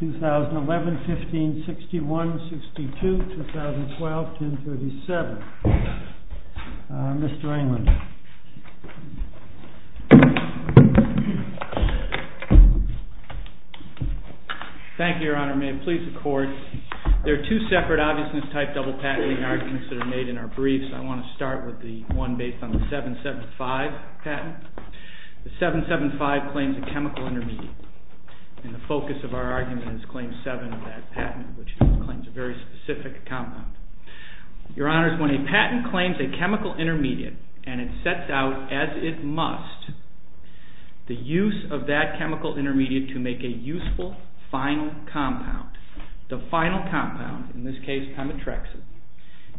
2011, 15, 61, 62, 2012, 10, 37. Mr. England. Thank you, Your Honor. May it please the Court. There are two separate obviousness type double patenting arguments that are made in our briefs. I want to start with the one based on the 775 patent. The 775 claims a chemical intermediate, and the focus of our argument is claim 7 of that patent, which claims a very specific compound. Your Honor, when a patent claims a chemical intermediate and it sets out, as it must, the use of that chemical intermediate to make a useful final compound, the final compound, in this case, Pemetrexin,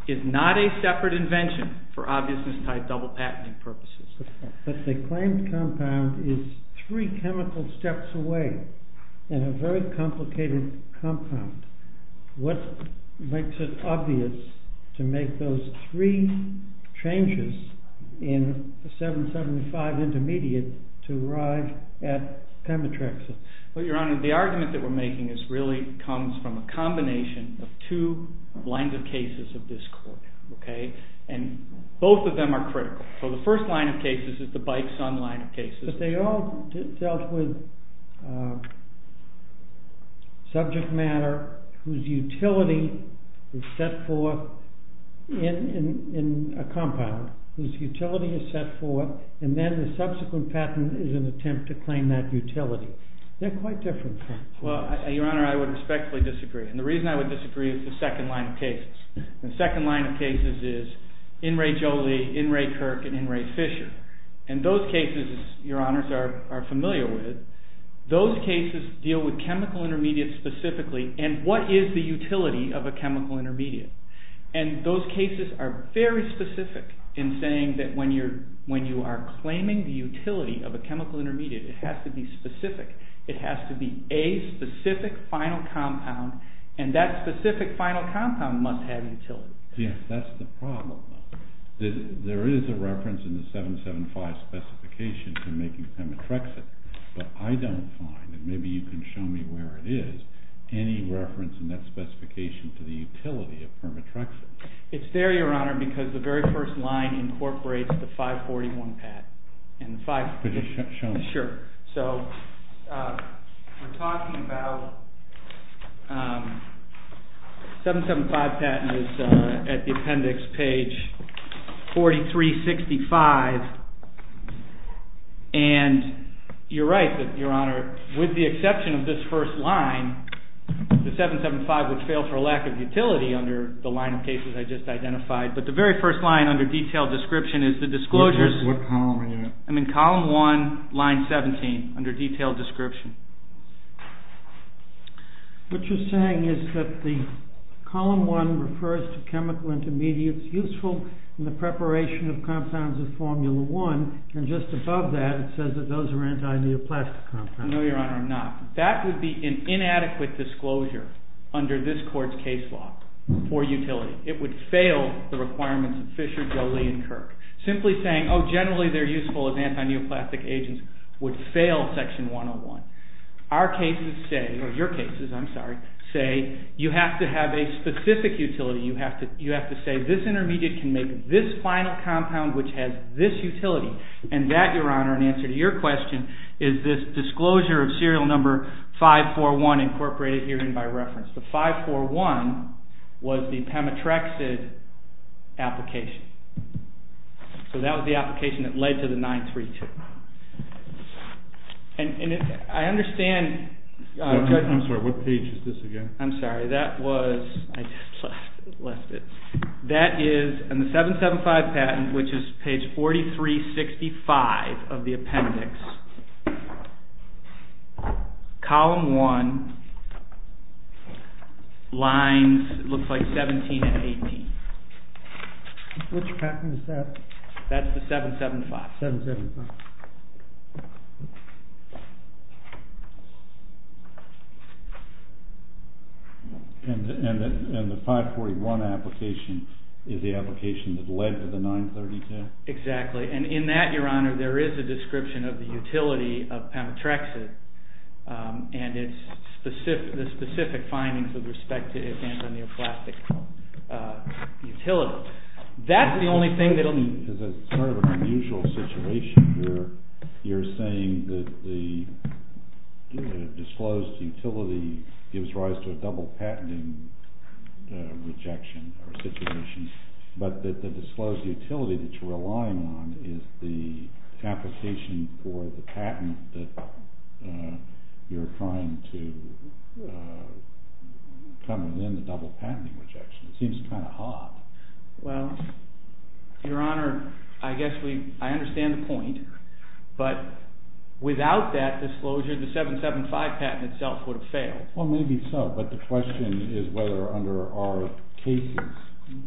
is not a separate invention for obviousness type double patenting purposes. But the claimed compound is three chemical steps away, and a very complicated compound. What makes it obvious to make those three changes in the 775 intermediate to arrive at Pemetrexin? Well, Your Honor, the argument that we're making really comes from a combination of two lines of cases of this court. And both of them are critical. So the first line of cases is the Bikeson line of cases. But they all dealt with subject matter whose utility is set forth in a compound, whose utility is set forth, and then the subsequent patent is an attempt to claim that utility. They're quite different things. Well, Your Honor, I would respectfully disagree. And the reason I would disagree is the second line of cases. The second line of cases is In re Jolie, In re Kirk, and In re Fisher. And those cases, Your Honors, are familiar with. Those cases deal with chemical intermediates specifically, and what is the utility of a chemical intermediate? And those cases are very specific in saying that when you are claiming the utility of a chemical intermediate, it has to be specific. It has to be a specific final compound, and that specific final compound must have utility. Yes, that's the problem. There is a reference in the 775 specification to making Pemetrexin, but I don't find, and maybe you can show me where it is, any reference in that specification to the utility of Pemetrexin. It's there, Your Honor, because the very first line incorporates the 541 patent. Could you show me? Sure. So we're talking about 775 patent is at the appendix page 4365, and you're right, Your Honor, with the exception of this first line, the 775 would fail for lack of utility under the line of cases. I just identified, but the very first line under detailed description is the disclosures. What column are you in? I'm in column 1, line 17, under detailed description. What you're saying is that the column 1 refers to chemical intermediates useful in the preparation of compounds of formula 1, and just above that, it says that those are anti-neoplastic compounds. No, Your Honor, I'm not. That would be an inadequate disclosure under this court's case law for utility. It would fail the requirements of Fisher, Jolie, and Kirk. Simply saying, oh, generally they're useful as anti-neoplastic agents would fail section 101. Our cases say, or your cases, I'm sorry, say you have to have a specific utility. You have to say this intermediate can make this final compound which has this utility, and that, Your Honor, in answer to your question, is this disclosure of serial number 541 incorporated herein by reference. The 541 was the Pemetrexid application. So that was the application that led to the 932. And I understand... I'm sorry, what page is this again? I'm sorry, that was... I just left it. That is, in the 775 patent, which is page 4365 of the appendix, column 1, lines, it looks like 17 and 18. Which patent is that? That's the 775. 775. And the 541 application is the application that led to the 932? Exactly. And in that, Your Honor, there is a description of the utility of Pemetrexid and the specific findings with respect to its anti-neoplastic utility. So that's the only thing that... Well, Your Honor, I guess we... I understand the point, but without that disclosure, the 775 patent itself would have failed. Well, maybe so, but the question is whether, under our cases,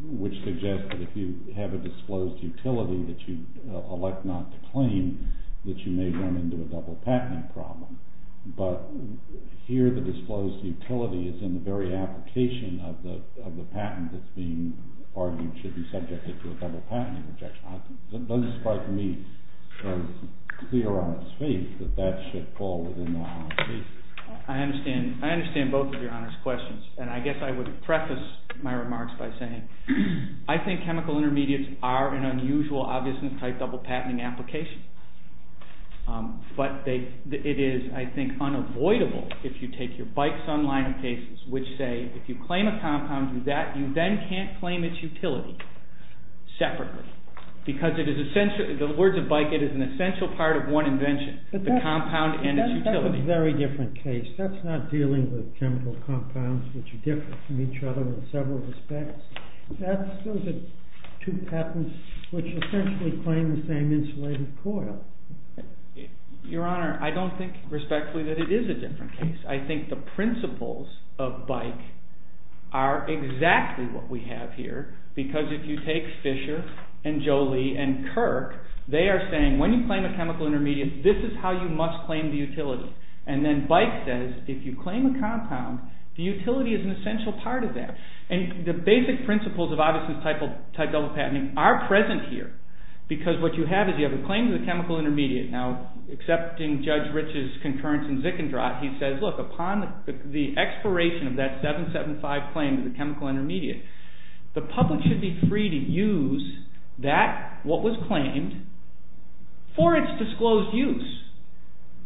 which suggest that if you have a disclosed utility that you elect not to claim, that you may run into a double-patenting problem. But here, the disclosed utility is in the very application of the patent that's being argued should be subjected to a double-patenting objection. It doesn't strike me as clear on its faith that that should fall within that. I understand both of Your Honor's questions, and I guess I would preface my remarks by saying I think chemical intermediates are an unusual, obvious, and tight double-patenting application. But it is, I think, unavoidable if you take your Bikeson line of cases, which say if you claim a compound, do that, you then can't claim its utility separately. Because the words of Bikeson, it is an essential part of one invention, the compound and its utility. That's a very different case. That's not dealing with chemical compounds, which are different from each other in several respects. Those are two patents which essentially claim the same insulated coil. Your Honor, I don't think respectfully that it is a different case. I think the principles of BIKE are exactly what we have here. Because if you take Fisher and Jolie and Kirk, they are saying when you claim a chemical intermediate, this is how you must claim the utility. And then BIKE says if you claim a compound, the utility is an essential part of that. And the basic principles of obvious and tight double-patenting are present here. Because what you have is you have a claim to the chemical intermediate. Now, accepting Judge Rich's concurrence in Zickendrott, he says, look, upon the expiration of that 775 claim to the chemical intermediate, the public should be free to use that, what was claimed, for its disclosed use.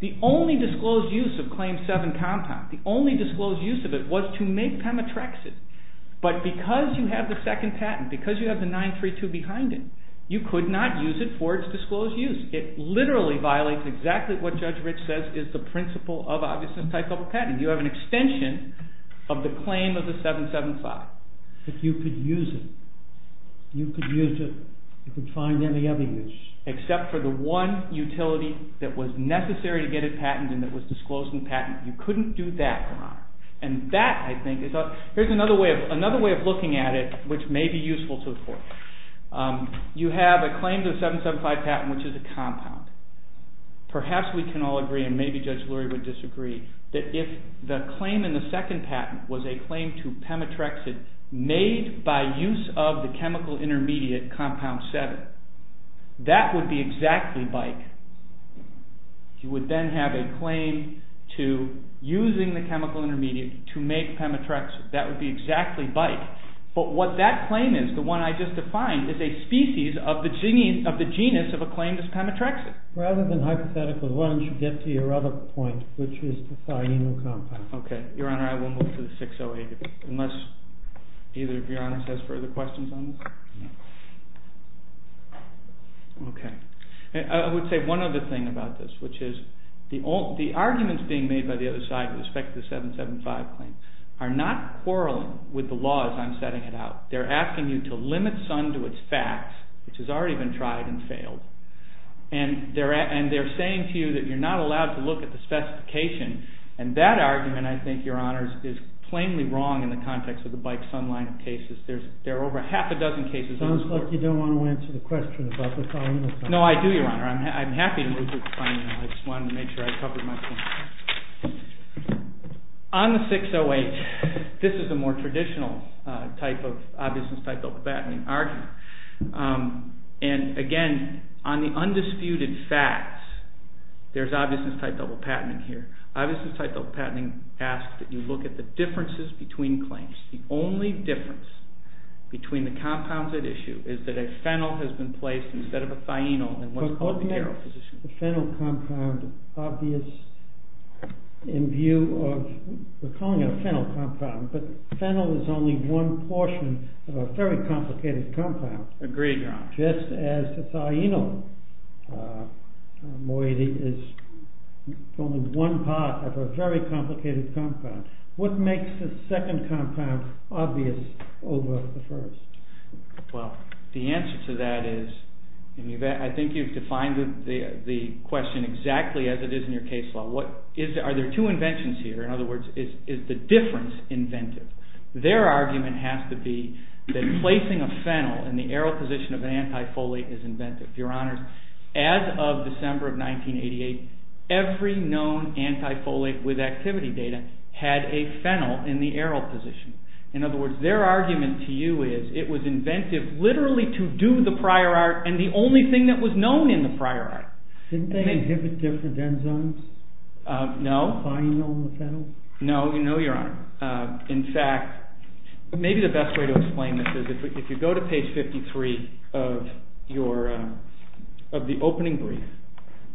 The only disclosed use of Claim 7 compound, the only disclosed use of it was to make Pemetrexid. But because you have the second patent, because you have the 932 behind it, you could not use it for its disclosed use. It literally violates exactly what Judge Rich says is the principle of obvious and tight double-patenting. You have an extension of the claim of the 775. But you could use it. You could use it. You could find any other use. Except for the one utility that was necessary to get it patented and that was disclosed in patent. You couldn't do that, Your Honor. And that, I think, is another way of looking at it, which may be useful to the court. You have a claim to the 775 patent, which is a compound. Perhaps we can all agree, and maybe Judge Lurie would disagree, that if the claim in the second patent was a claim to Pemetrexid made by use of the chemical intermediate compound 7, that would be exactly bike. You would then have a claim to using the chemical intermediate to make Pemetrexid. That would be exactly bike. But what that claim is, the one I just defined, is a species of the genus of a claim to Pemetrexid. Rather than hypothetically, why don't you get to your other point, which is the thiamine compound. Okay. Your Honor, I will move to the 608. Unless either of Your Honors has further questions on this? No. Okay. I would say one other thing about this, which is the arguments being made by the other side with respect to the 775 claim are not quarreling with the law as I'm setting it out. They're asking you to limit Sun to its facts, which has already been tried and failed. And they're saying to you that you're not allowed to look at the specification. And that argument, I think, Your Honors, is plainly wrong in the context of the bike Sun line of cases. There are over half a dozen cases in this court. It sounds like you don't want to answer the question about the thiamine compound. No, I do, Your Honor. I'm happy to move this claim. I just wanted to make sure I covered my point. On the 608, this is a more traditional type of obviousness type double patenting argument. And again, on the undisputed facts, there's obviousness type double patenting here. Obviousness type double patenting asks that you look at the differences between claims. The only difference between the compounds at issue is that a phenyl has been placed instead of a thionyl in what's called the aero position. But wouldn't a phenyl compound obvious in view of, we're calling it a phenyl compound, but phenyl is only one portion of a very complicated compound. Agreed, Your Honor. Just as a thionyl moiety is only one part of a very complicated compound. What makes the second compound obvious over the first? Well, the answer to that is, I think you've defined the question exactly as it is in your case law. Are there two inventions here? In other words, is the difference inventive? Their argument has to be that placing a phenyl in the aero position of an anti-folate is inventive. Your Honor, as of December of 1988, every known anti-folate with activity data had a phenyl in the aero position. In other words, their argument to you is, it was inventive literally to do the prior art and the only thing that was known in the prior art. Didn't they inhibit different enzymes? No. By knowing the phenyl? No, Your Honor. In fact, maybe the best way to explain this is, if you go to page 53 of the opening brief,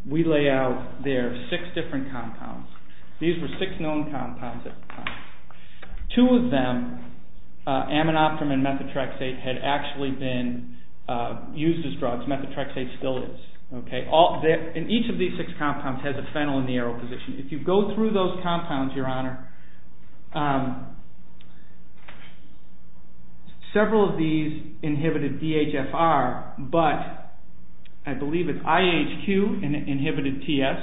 we lay out there six different compounds. These were six known compounds at the time. Two of them, aminoptum and methotrexate, had actually been used as drugs. Methotrexate still is. Each of these six compounds has a phenyl in the aero position. If you go through those compounds, Your Honor, several of these inhibited DHFR, but I believe it's IHQ inhibited TS.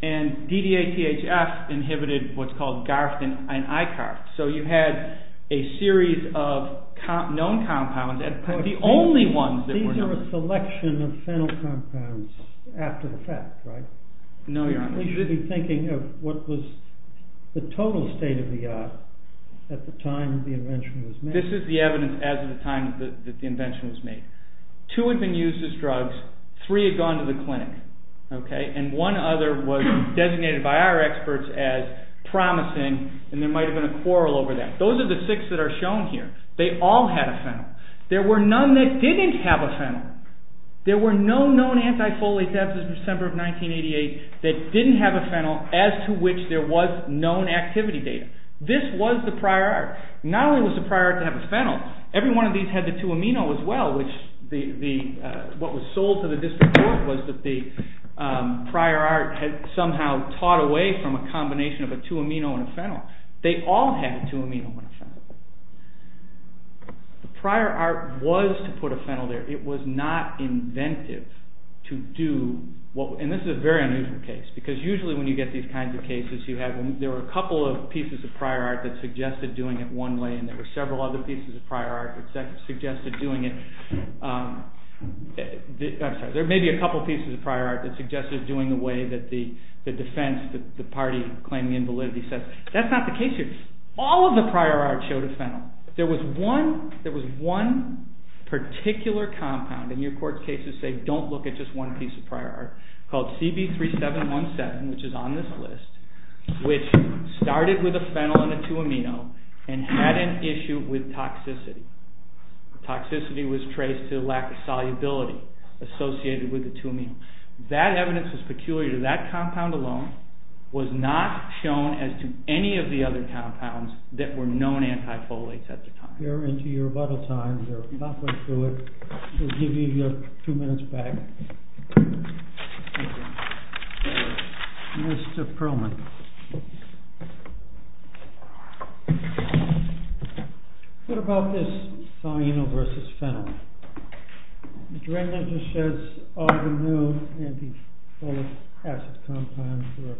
And DDA-THF inhibited what's called Garftin and Icarft. So you had a series of known compounds. These are a selection of phenyl compounds after the fact, right? No, Your Honor. You should be thinking of what was the total state of the art at the time the invention was made. This is the evidence as of the time that the invention was made. Two had been used as drugs. Three had gone to the clinic. And one other was designated by our experts as promising and there might have been a quarrel over that. Those are the six that are shown here. They all had a phenyl. There were none that didn't have a phenyl. There were no known antifolates after December of 1988 that didn't have a phenyl as to which there was known activity data. This was the prior art. Not only was the prior art to have a phenyl, every one of these had the 2-amino as well, which what was sold to the district court was that the prior art had somehow taught away from a combination of a 2-amino and a phenyl. They all had a 2-amino and a phenyl. The prior art was to put a phenyl there. It was not inventive to do what… And this is a very unusual case because usually when you get these kinds of cases, there were a couple of pieces of prior art that suggested doing it one way and there were several other pieces of prior art that suggested doing it… I'm sorry. There may be a couple of pieces of prior art that suggested doing it the way that the defense, the party claiming invalidity says. That's not the case here. All of the prior art showed a phenyl. There was one particular compound, and your court cases say don't look at just one piece of prior art, called CB3717, which is on this list, which started with a phenyl and a 2-amino and had an issue with toxicity. Toxicity was traced to a lack of solubility associated with the 2-amino. That evidence was peculiar to that compound alone. It was not shown as to any of the other compounds that were known antifolates at the time. You're into your rebuttal time. You're not going to do it. We'll give you your two minutes back. Thank you. Mr. Perlman. What about this thionyl versus phenyl? Mr. Englander says all the known antifolic acid compounds were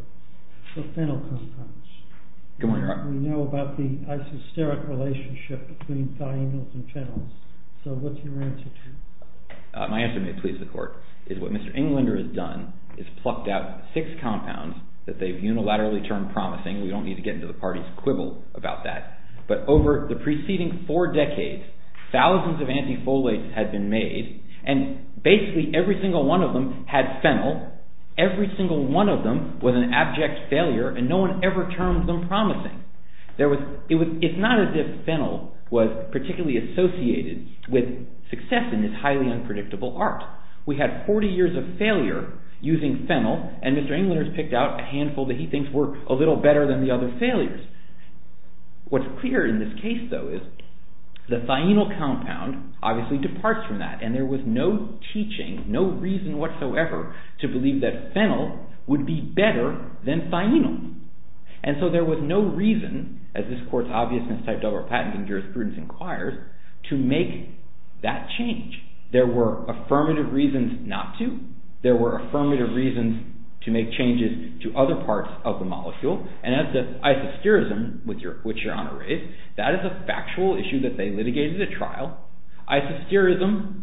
phenyl compounds. Good morning, Your Honor. We know about the isosteric relationship between thionyls and phenyls. So what's your answer to that? My answer, may it please the court, is what Mr. Englander has done is plucked out six compounds that they've unilaterally turned promising. We don't need to get into the party's quibble about that. But over the preceding four decades, thousands of antifolates had been made, and basically every single one of them had phenyl. Every single one of them was an abject failure, and no one ever turned them promising. It's not as if phenyl was particularly associated with success in this highly unpredictable art. We had 40 years of failure using phenyl, and Mr. Englander has picked out a handful that he thinks work a little better than the other failures. What's clear in this case, though, is the thionyl compound obviously departs from that, and there was no teaching, no reason whatsoever to believe that phenyl would be better than thionyl. And so there was no reason, as this court's obvious mistyped over patenting jurisprudence inquires, to make that change. There were affirmative reasons not to. There were affirmative reasons to make changes to other parts of the molecule. And as to isosterism, which Your Honor raised, that is a factual issue that they litigated at trial. Isosterism,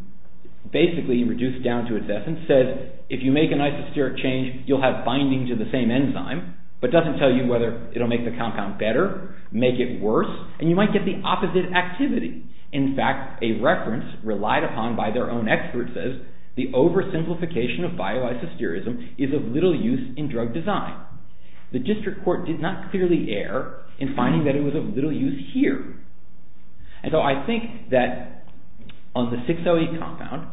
basically reduced down to its essence, says if you make an isosteric change, you'll have binding to the same enzyme, but doesn't tell you whether it'll make the compound better, make it worse, and you might get the opposite activity. In fact, a reference relied upon by their own expert says the oversimplification of bio-isosterism is of little use in drug design. The district court did not clearly err in finding that it was of little use here. And so I think that on the 6-O-E compound,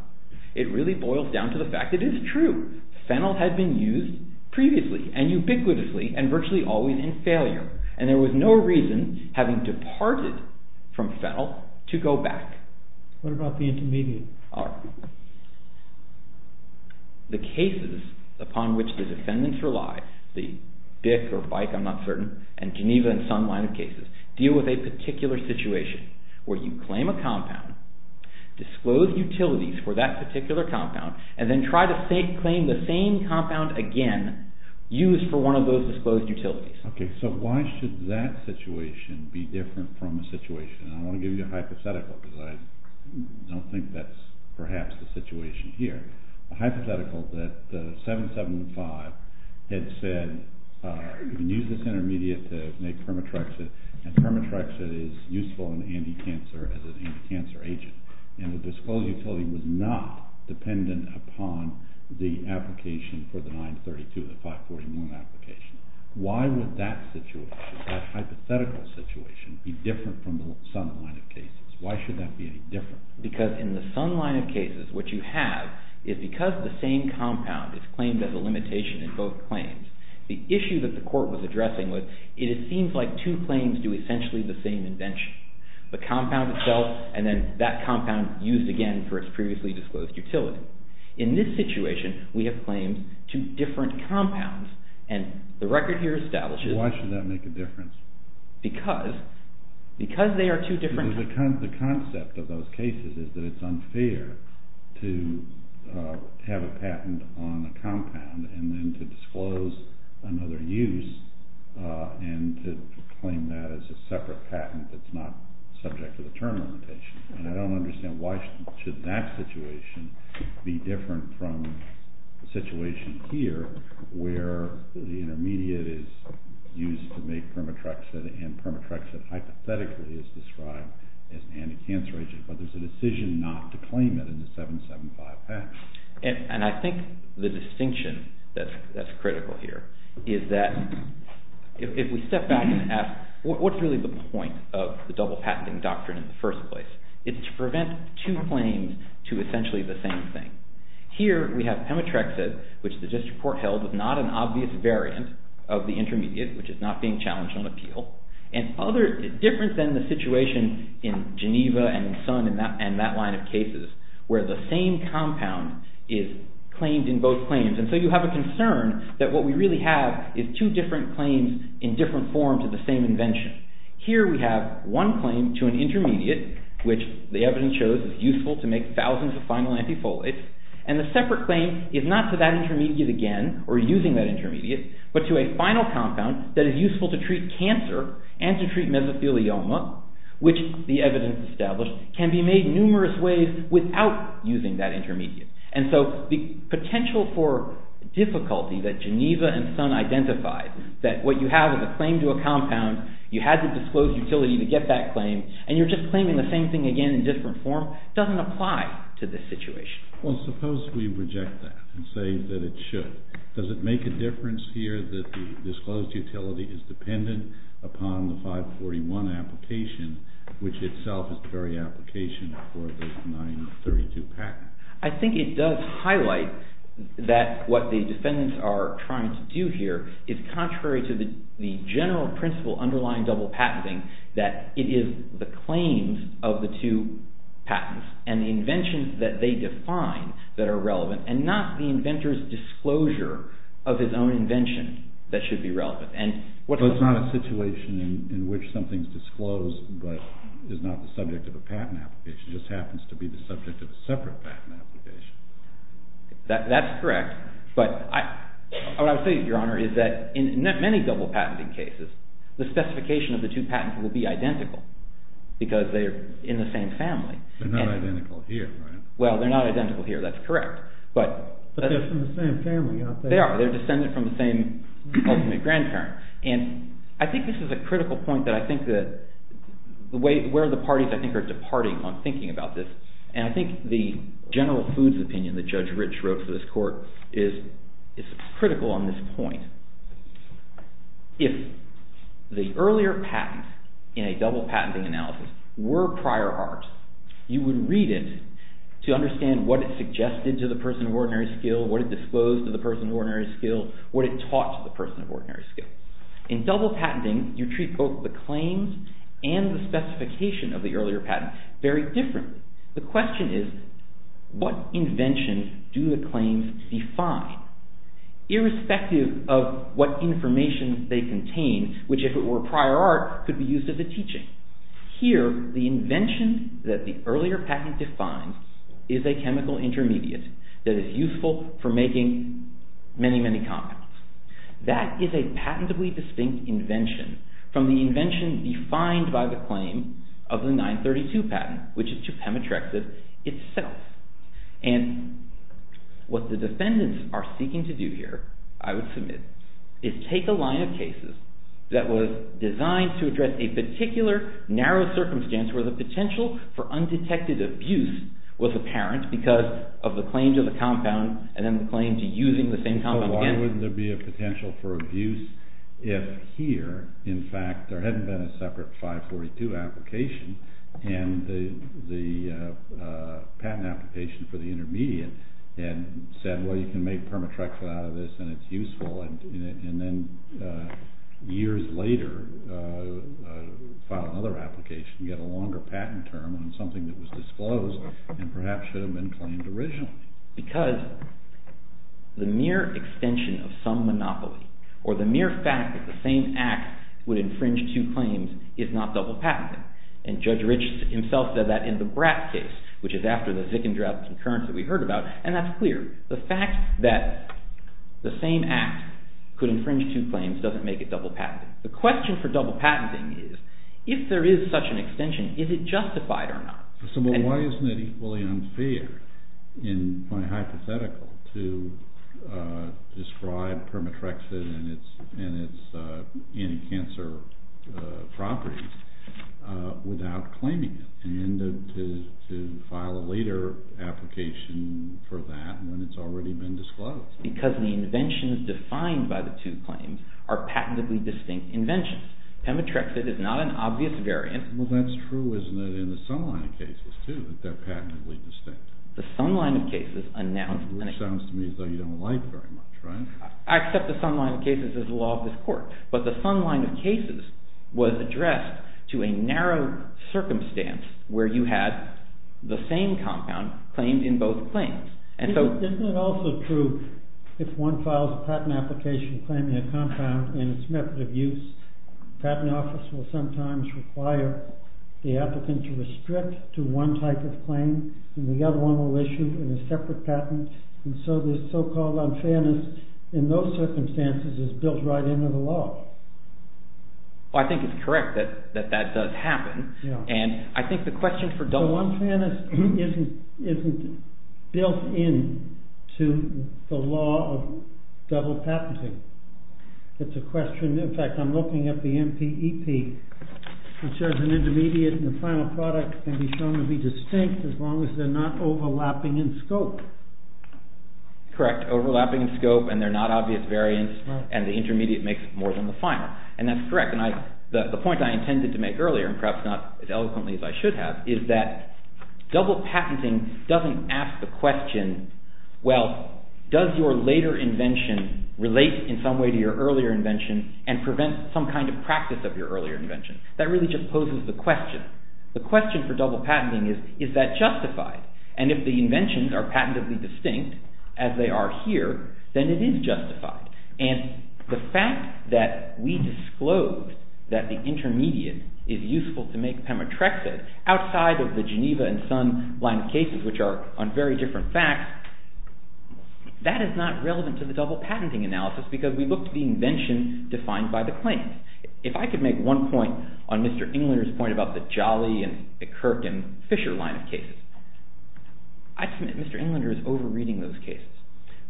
it really boils down to the fact that it is true. Phenyl had been used previously and ubiquitously and virtually always in failure, and there was no reason, having departed from phenyl, to go back. What about the intermediate? The cases upon which the defendants rely, the Dick or Bike, I'm not certain, and Geneva and Sun line of cases, deal with a particular situation where you claim a compound, disclose utilities for that particular compound, and then try to claim the same compound again, used for one of those disclosed utilities. Okay, so why should that situation be different from a situation? I want to give you a hypothetical because I don't think that's perhaps the situation here. A hypothetical that the 7-7-5 had said, you can use this intermediate to make permatryxin, and permatryxin is useful in anti-cancer as an anti-cancer agent. And the disclosed utility was not dependent upon the application for the 9-32, the 5-40-1 application. Why would that situation, that hypothetical situation, be different from the Sun line of cases? Why should that be any different? Because in the Sun line of cases, what you have is because the same compound is claimed as a limitation in both claims, the issue that the court was addressing was, it seems like two claims do essentially the same invention. The compound itself, and then that compound used again for its previously disclosed utility. In this situation, we have claimed two different compounds, and the record here establishes… Why should that make a difference? Because they are two different compounds. The concept of those cases is that it's unfair to have a patent on a compound and then to disclose another use and to claim that as a separate patent that's not subject to the term limitation. And I don't understand why should that situation be different from the situation here where the intermediate is used to make Permatrexid and Permatrexid hypothetically is described as an anti-cancer agent, but there's a decision not to claim it in the 775 patent. And I think the distinction that's critical here is that if we step back and ask, what's really the point of the double patenting doctrine in the first place? It's to prevent two claims to essentially the same thing. Here we have Permatrexid, which the district court held was not an obvious variant of the intermediate, which is not being challenged on appeal. And different than the situation in Geneva and in Sun and that line of cases, where the same compound is claimed in both claims. And so you have a concern that what we really have is two different claims in different forms of the same invention. Here we have one claim to an intermediate, which the evidence shows is useful to make thousands of final antifolates. And the separate claim is not to that intermediate again or using that intermediate, but to a final compound that is useful to treat cancer and to treat mesothelioma, which the evidence established can be made numerous ways without using that intermediate. And so the potential for difficulty that Geneva and Sun identified, that what you have is a claim to a compound, you had to disclose utility to get that claim, and you're just claiming the same thing again in a different form, doesn't apply to this situation. Well, suppose we reject that and say that it should. Does it make a difference here that the disclosed utility is dependent upon the 541 application, which itself is the very application for this 932 patent? I think it does highlight that what the defendants are trying to do here is contrary to the general principle underlying double patenting, that it is the claims of the two patents and the inventions that they define that are relevant and not the inventor's disclosure of his own invention that should be relevant. So it's not a situation in which something is disclosed but is not the subject of a patent application, which just happens to be the subject of a separate patent application. That's correct. But what I would say, Your Honor, is that in many double patenting cases, the specification of the two patents will be identical because they are in the same family. They're not identical here, right? Well, they're not identical here. That's correct. But they're from the same family, aren't they? They are. They're descended from the same ultimate grandparent. I think this is a critical point where the parties are departing on thinking about this, and I think the general foods opinion that Judge Rich wrote for this court is critical on this point. If the earlier patents in a double patenting analysis were prior arts, you would read it to understand what it suggested to the person of ordinary skill, what it disclosed to the person of ordinary skill, what it taught to the person of ordinary skill. In double patenting, you treat both the claims and the specification of the earlier patents very differently. The question is, what invention do the claims define? Irrespective of what information they contain, which if it were prior art, could be used as a teaching. Here, the invention that the earlier patent defines is a chemical intermediate that is useful for making many, many compounds. That is a patentably distinct invention from the invention defined by the claim of the 932 patent, which is Chepamotrexib itself. And what the defendants are seeking to do here, I would submit, is take a line of cases that was designed to address a particular narrow circumstance where the potential for undetected abuse was apparent because of the claim to the compound and then the claim to using the same compound again. So why wouldn't there be a potential for abuse if here, in fact, there hadn't been a separate 542 application and the patent application for the intermediate and said, well, you can make Permatrexib out of this and it's useful, and then years later, file another application, get a longer patent term on something that was disclosed and perhaps should have been claimed originally? Because the mere extension of some monopoly or the mere fact that the same act would infringe two claims is not double patenting. And Judge Rich himself said that in the Bratt case, which is after the Zickendrap concurrence that we heard about. And that's clear. The fact that the same act could infringe two claims doesn't make it double patenting. The question for double patenting is, if there is such an extension, is it justified or not? So why isn't it equally unfair in my hypothetical to describe Permatrexib and its anti-cancer properties without claiming it and then to file a later application for that when it's already been disclosed? Because the inventions defined by the two claims are patently distinct inventions. Permatrexib is not an obvious variant. Well, that's true, isn't it, in the Sun line of cases, too, that they're patently distinct. The Sun line of cases announced… Which sounds to me as though you don't like very much, right? I accept the Sun line of cases as the law of this court. But the Sun line of cases was addressed to a narrow circumstance where you had the same compound claimed in both claims. Isn't it also true if one files a patent application claiming a compound and its method of use, the patent office will sometimes require the applicant to restrict to one type of claim and the other one will issue a separate patent. And so this so-called unfairness in those circumstances is built right into the law. Well, I think it's correct that that does happen. And I think the question for… So unfairness isn't built into the law of double patenting. It's a question… In fact, I'm looking at the MPEP, which says an intermediate and a final product can be shown to be distinct as long as they're not overlapping in scope. Correct. Overlapping in scope and they're not obvious variants, and the intermediate makes more than the final. And that's correct. And the point I intended to make earlier, and perhaps not as eloquently as I should have, is that double patenting doesn't ask the question, well, does your later invention relate in some way to your earlier invention and prevent some kind of practice of your earlier invention? That really just poses the question. The question for double patenting is, is that justified? And if the inventions are patently distinct, as they are here, then it is justified. And the fact that we disclose that the intermediate is useful to make Pemetrexid outside of the Geneva and Sun line of cases, which are on very different facts, that is not relevant to the double patenting analysis because we look to the invention defined by the claim. If I could make one point on Mr. Englander's point about the Jolly and the Kirk and Fisher line of cases, I'd submit Mr. Englander is over-reading those cases.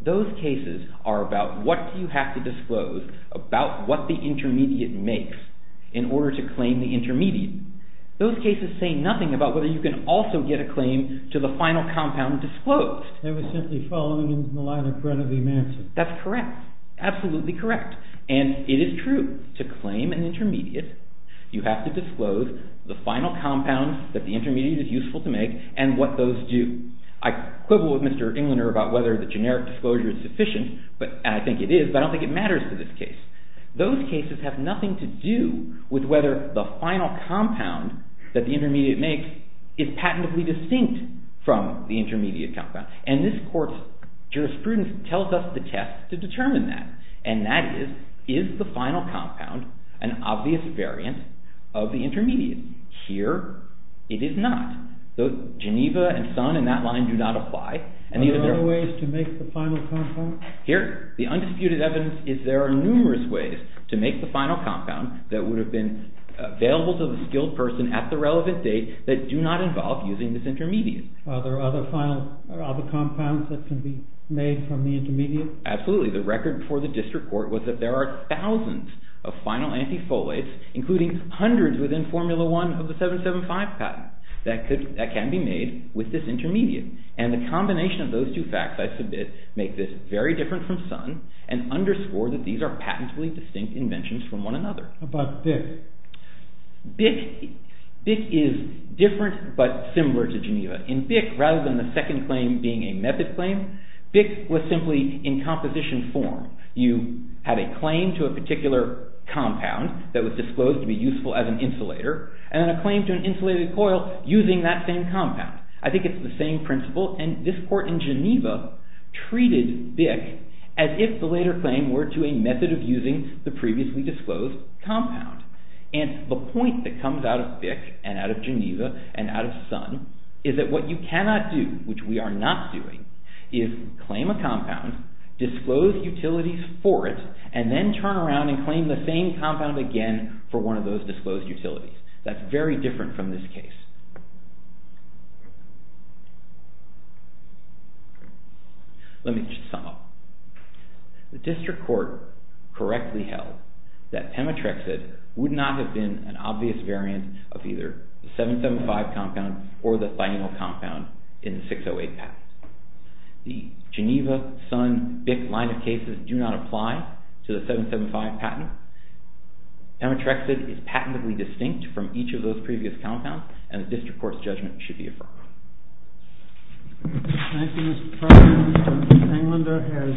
Those cases are about what do you have to disclose about what the intermediate makes in order to claim the intermediate. Those cases say nothing about whether you can also get a claim to the final compound disclosed. They were simply following in the line of credit of the invention. That's correct. Absolutely correct. And it is true. To claim an intermediate, you have to disclose the final compound that the intermediate is useful to make and what those do. I quibble with Mr. Englander about whether the generic disclosure is sufficient, and I think it is, but I don't think it matters to this case. Those cases have nothing to do with whether the final compound that the intermediate makes is patentably distinct from the intermediate compound. And this court's jurisprudence tells us the test to determine that, and that is, is the final compound an obvious variant of the intermediate? Here, it is not. So Geneva and Sun and that line do not apply. Are there other ways to make the final compound? Here, the undisputed evidence is there are numerous ways to make the final compound that would have been available to the skilled person at the relevant date that do not involve using this intermediate. Are there other compounds that can be made from the intermediate? Absolutely. The record for the district court was that there are thousands of final antifolates, including hundreds within Formula 1 of the 775 patent, that can be made with this intermediate. And the combination of those two facts, I submit, make this very different from Sun and underscore that these are patentably distinct inventions from one another. How about BIC? BIC is different but similar to Geneva. In BIC, rather than the second claim being a method claim, BIC was simply in composition form. You had a claim to a particular compound that was disclosed to be useful as an insulator, and then a claim to an insulated coil using that same compound. I think it is the same principle, and this court in Geneva treated BIC as if the later claim were to a method of using the previously disclosed compound. And the point that comes out of BIC and out of Geneva and out of Sun is that what you cannot do, which we are not doing, is claim a compound, disclose utilities for it, and then turn around and claim the same compound again for one of those disclosed utilities. That's very different from this case. Let me just sum up. The district court correctly held that Pemetrexid would not have been an obvious variant of either the 775 compound or the thionyl compound in the 608 patent. The Geneva, Sun, BIC line of cases do not apply to the 775 patent. Pemetrexid is patently distinct from each of those previous compounds, and the district court's judgment should be affirmed. Thank you, Mr. Proctor. Mr. Englander has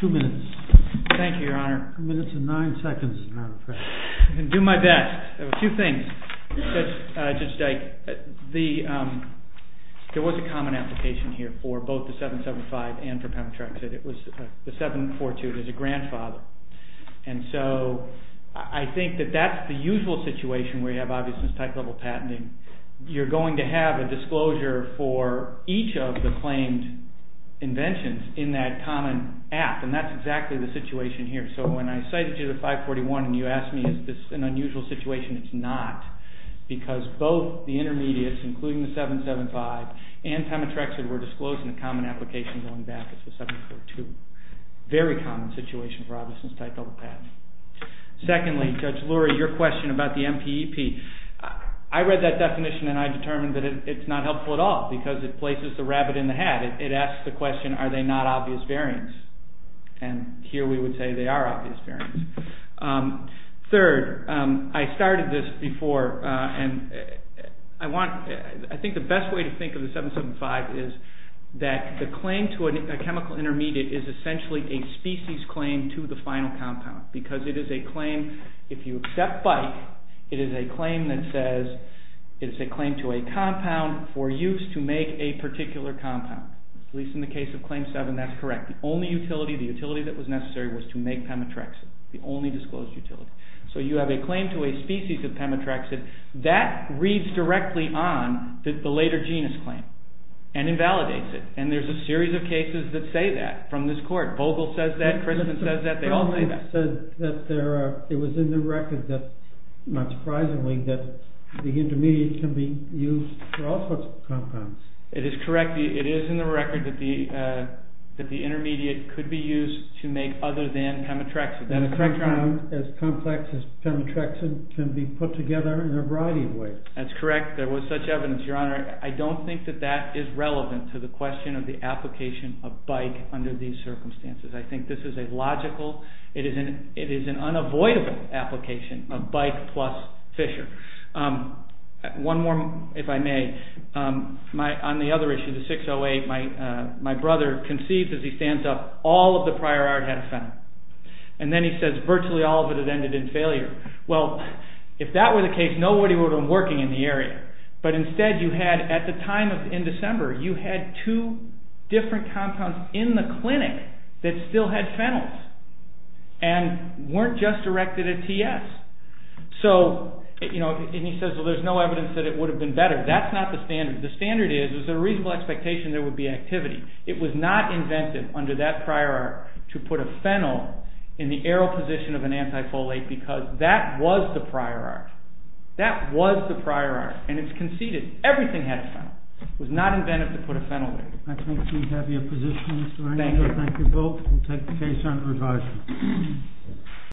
two minutes. Thank you, Your Honor. Two minutes and nine seconds, Your Honor. I can do my best. Two things. Judge Dyke, there was a common application here for both the 775 and for Pemetrexid. It was the 742. There's a grandfather. And so I think that that's the usual situation where you have obviousness-type level patenting. You're going to have a disclosure for each of the claimed inventions in that common app, and that's exactly the situation here. So when I cited you the 541 and you asked me, is this an unusual situation, it's not, because both the intermediates, including the 775 and Pemetrexid, were disclosed in the common application going back. It's the 742. Very common situation for obviousness-type level patents. Secondly, Judge Lurie, your question about the MPEP. I read that definition and I determined that it's not helpful at all because it places the rabbit in the hat. It asks the question, are they not obvious variants? And here we would say they are obvious variants. Third, I started this before, and I think the best way to think of the 775 is that the claim to a chemical intermediate is essentially a species claim to the final compound because it is a claim, if you accept BIC, it is a claim that says it's a claim to a compound for use to make a particular compound. At least in the case of Claim 7, that's correct. The only utility that was necessary was to make Pemetrexid. The only disclosed utility. So you have a claim to a species of Pemetrexid. That reads directly on the later genus claim and invalidates it. And there's a series of cases that say that from this court. Vogel says that, Christensen says that, they all say that. It was in the record, not surprisingly, that the intermediate can be used for all sorts of compounds. It is correct. It is in the record that the intermediate could be used to make other than Pemetrexid. And a compound as complex as Pemetrexid can be put together in a variety of ways. That's correct. There was such evidence, Your Honor. I don't think that that is relevant to the question of the application of BIC under these circumstances. I think this is a logical, it is an unavoidable application of BIC plus Fisher. One more, if I may. On the other issue, the 608, my brother conceives as he stands up all of the prior art had a phenyl. And then he says virtually all of it had ended in failure. Well, if that were the case, nobody would have been working in the area. But instead you had, at the time in December, you had two different compounds in the clinic that still had phenyls and weren't just erected at TS. And he says, well, there's no evidence that it would have been better. That's not the standard. The standard is there's a reasonable expectation there would be activity. It was not invented under that prior art to put a phenyl in the aero position of an antifolate because that was the prior art. That was the prior art. And it's conceded everything had a phenyl. It was not invented to put a phenyl there. I think we have your position, Mr. Arnado. Thank you. Thank you both. We'll take the case under advisory.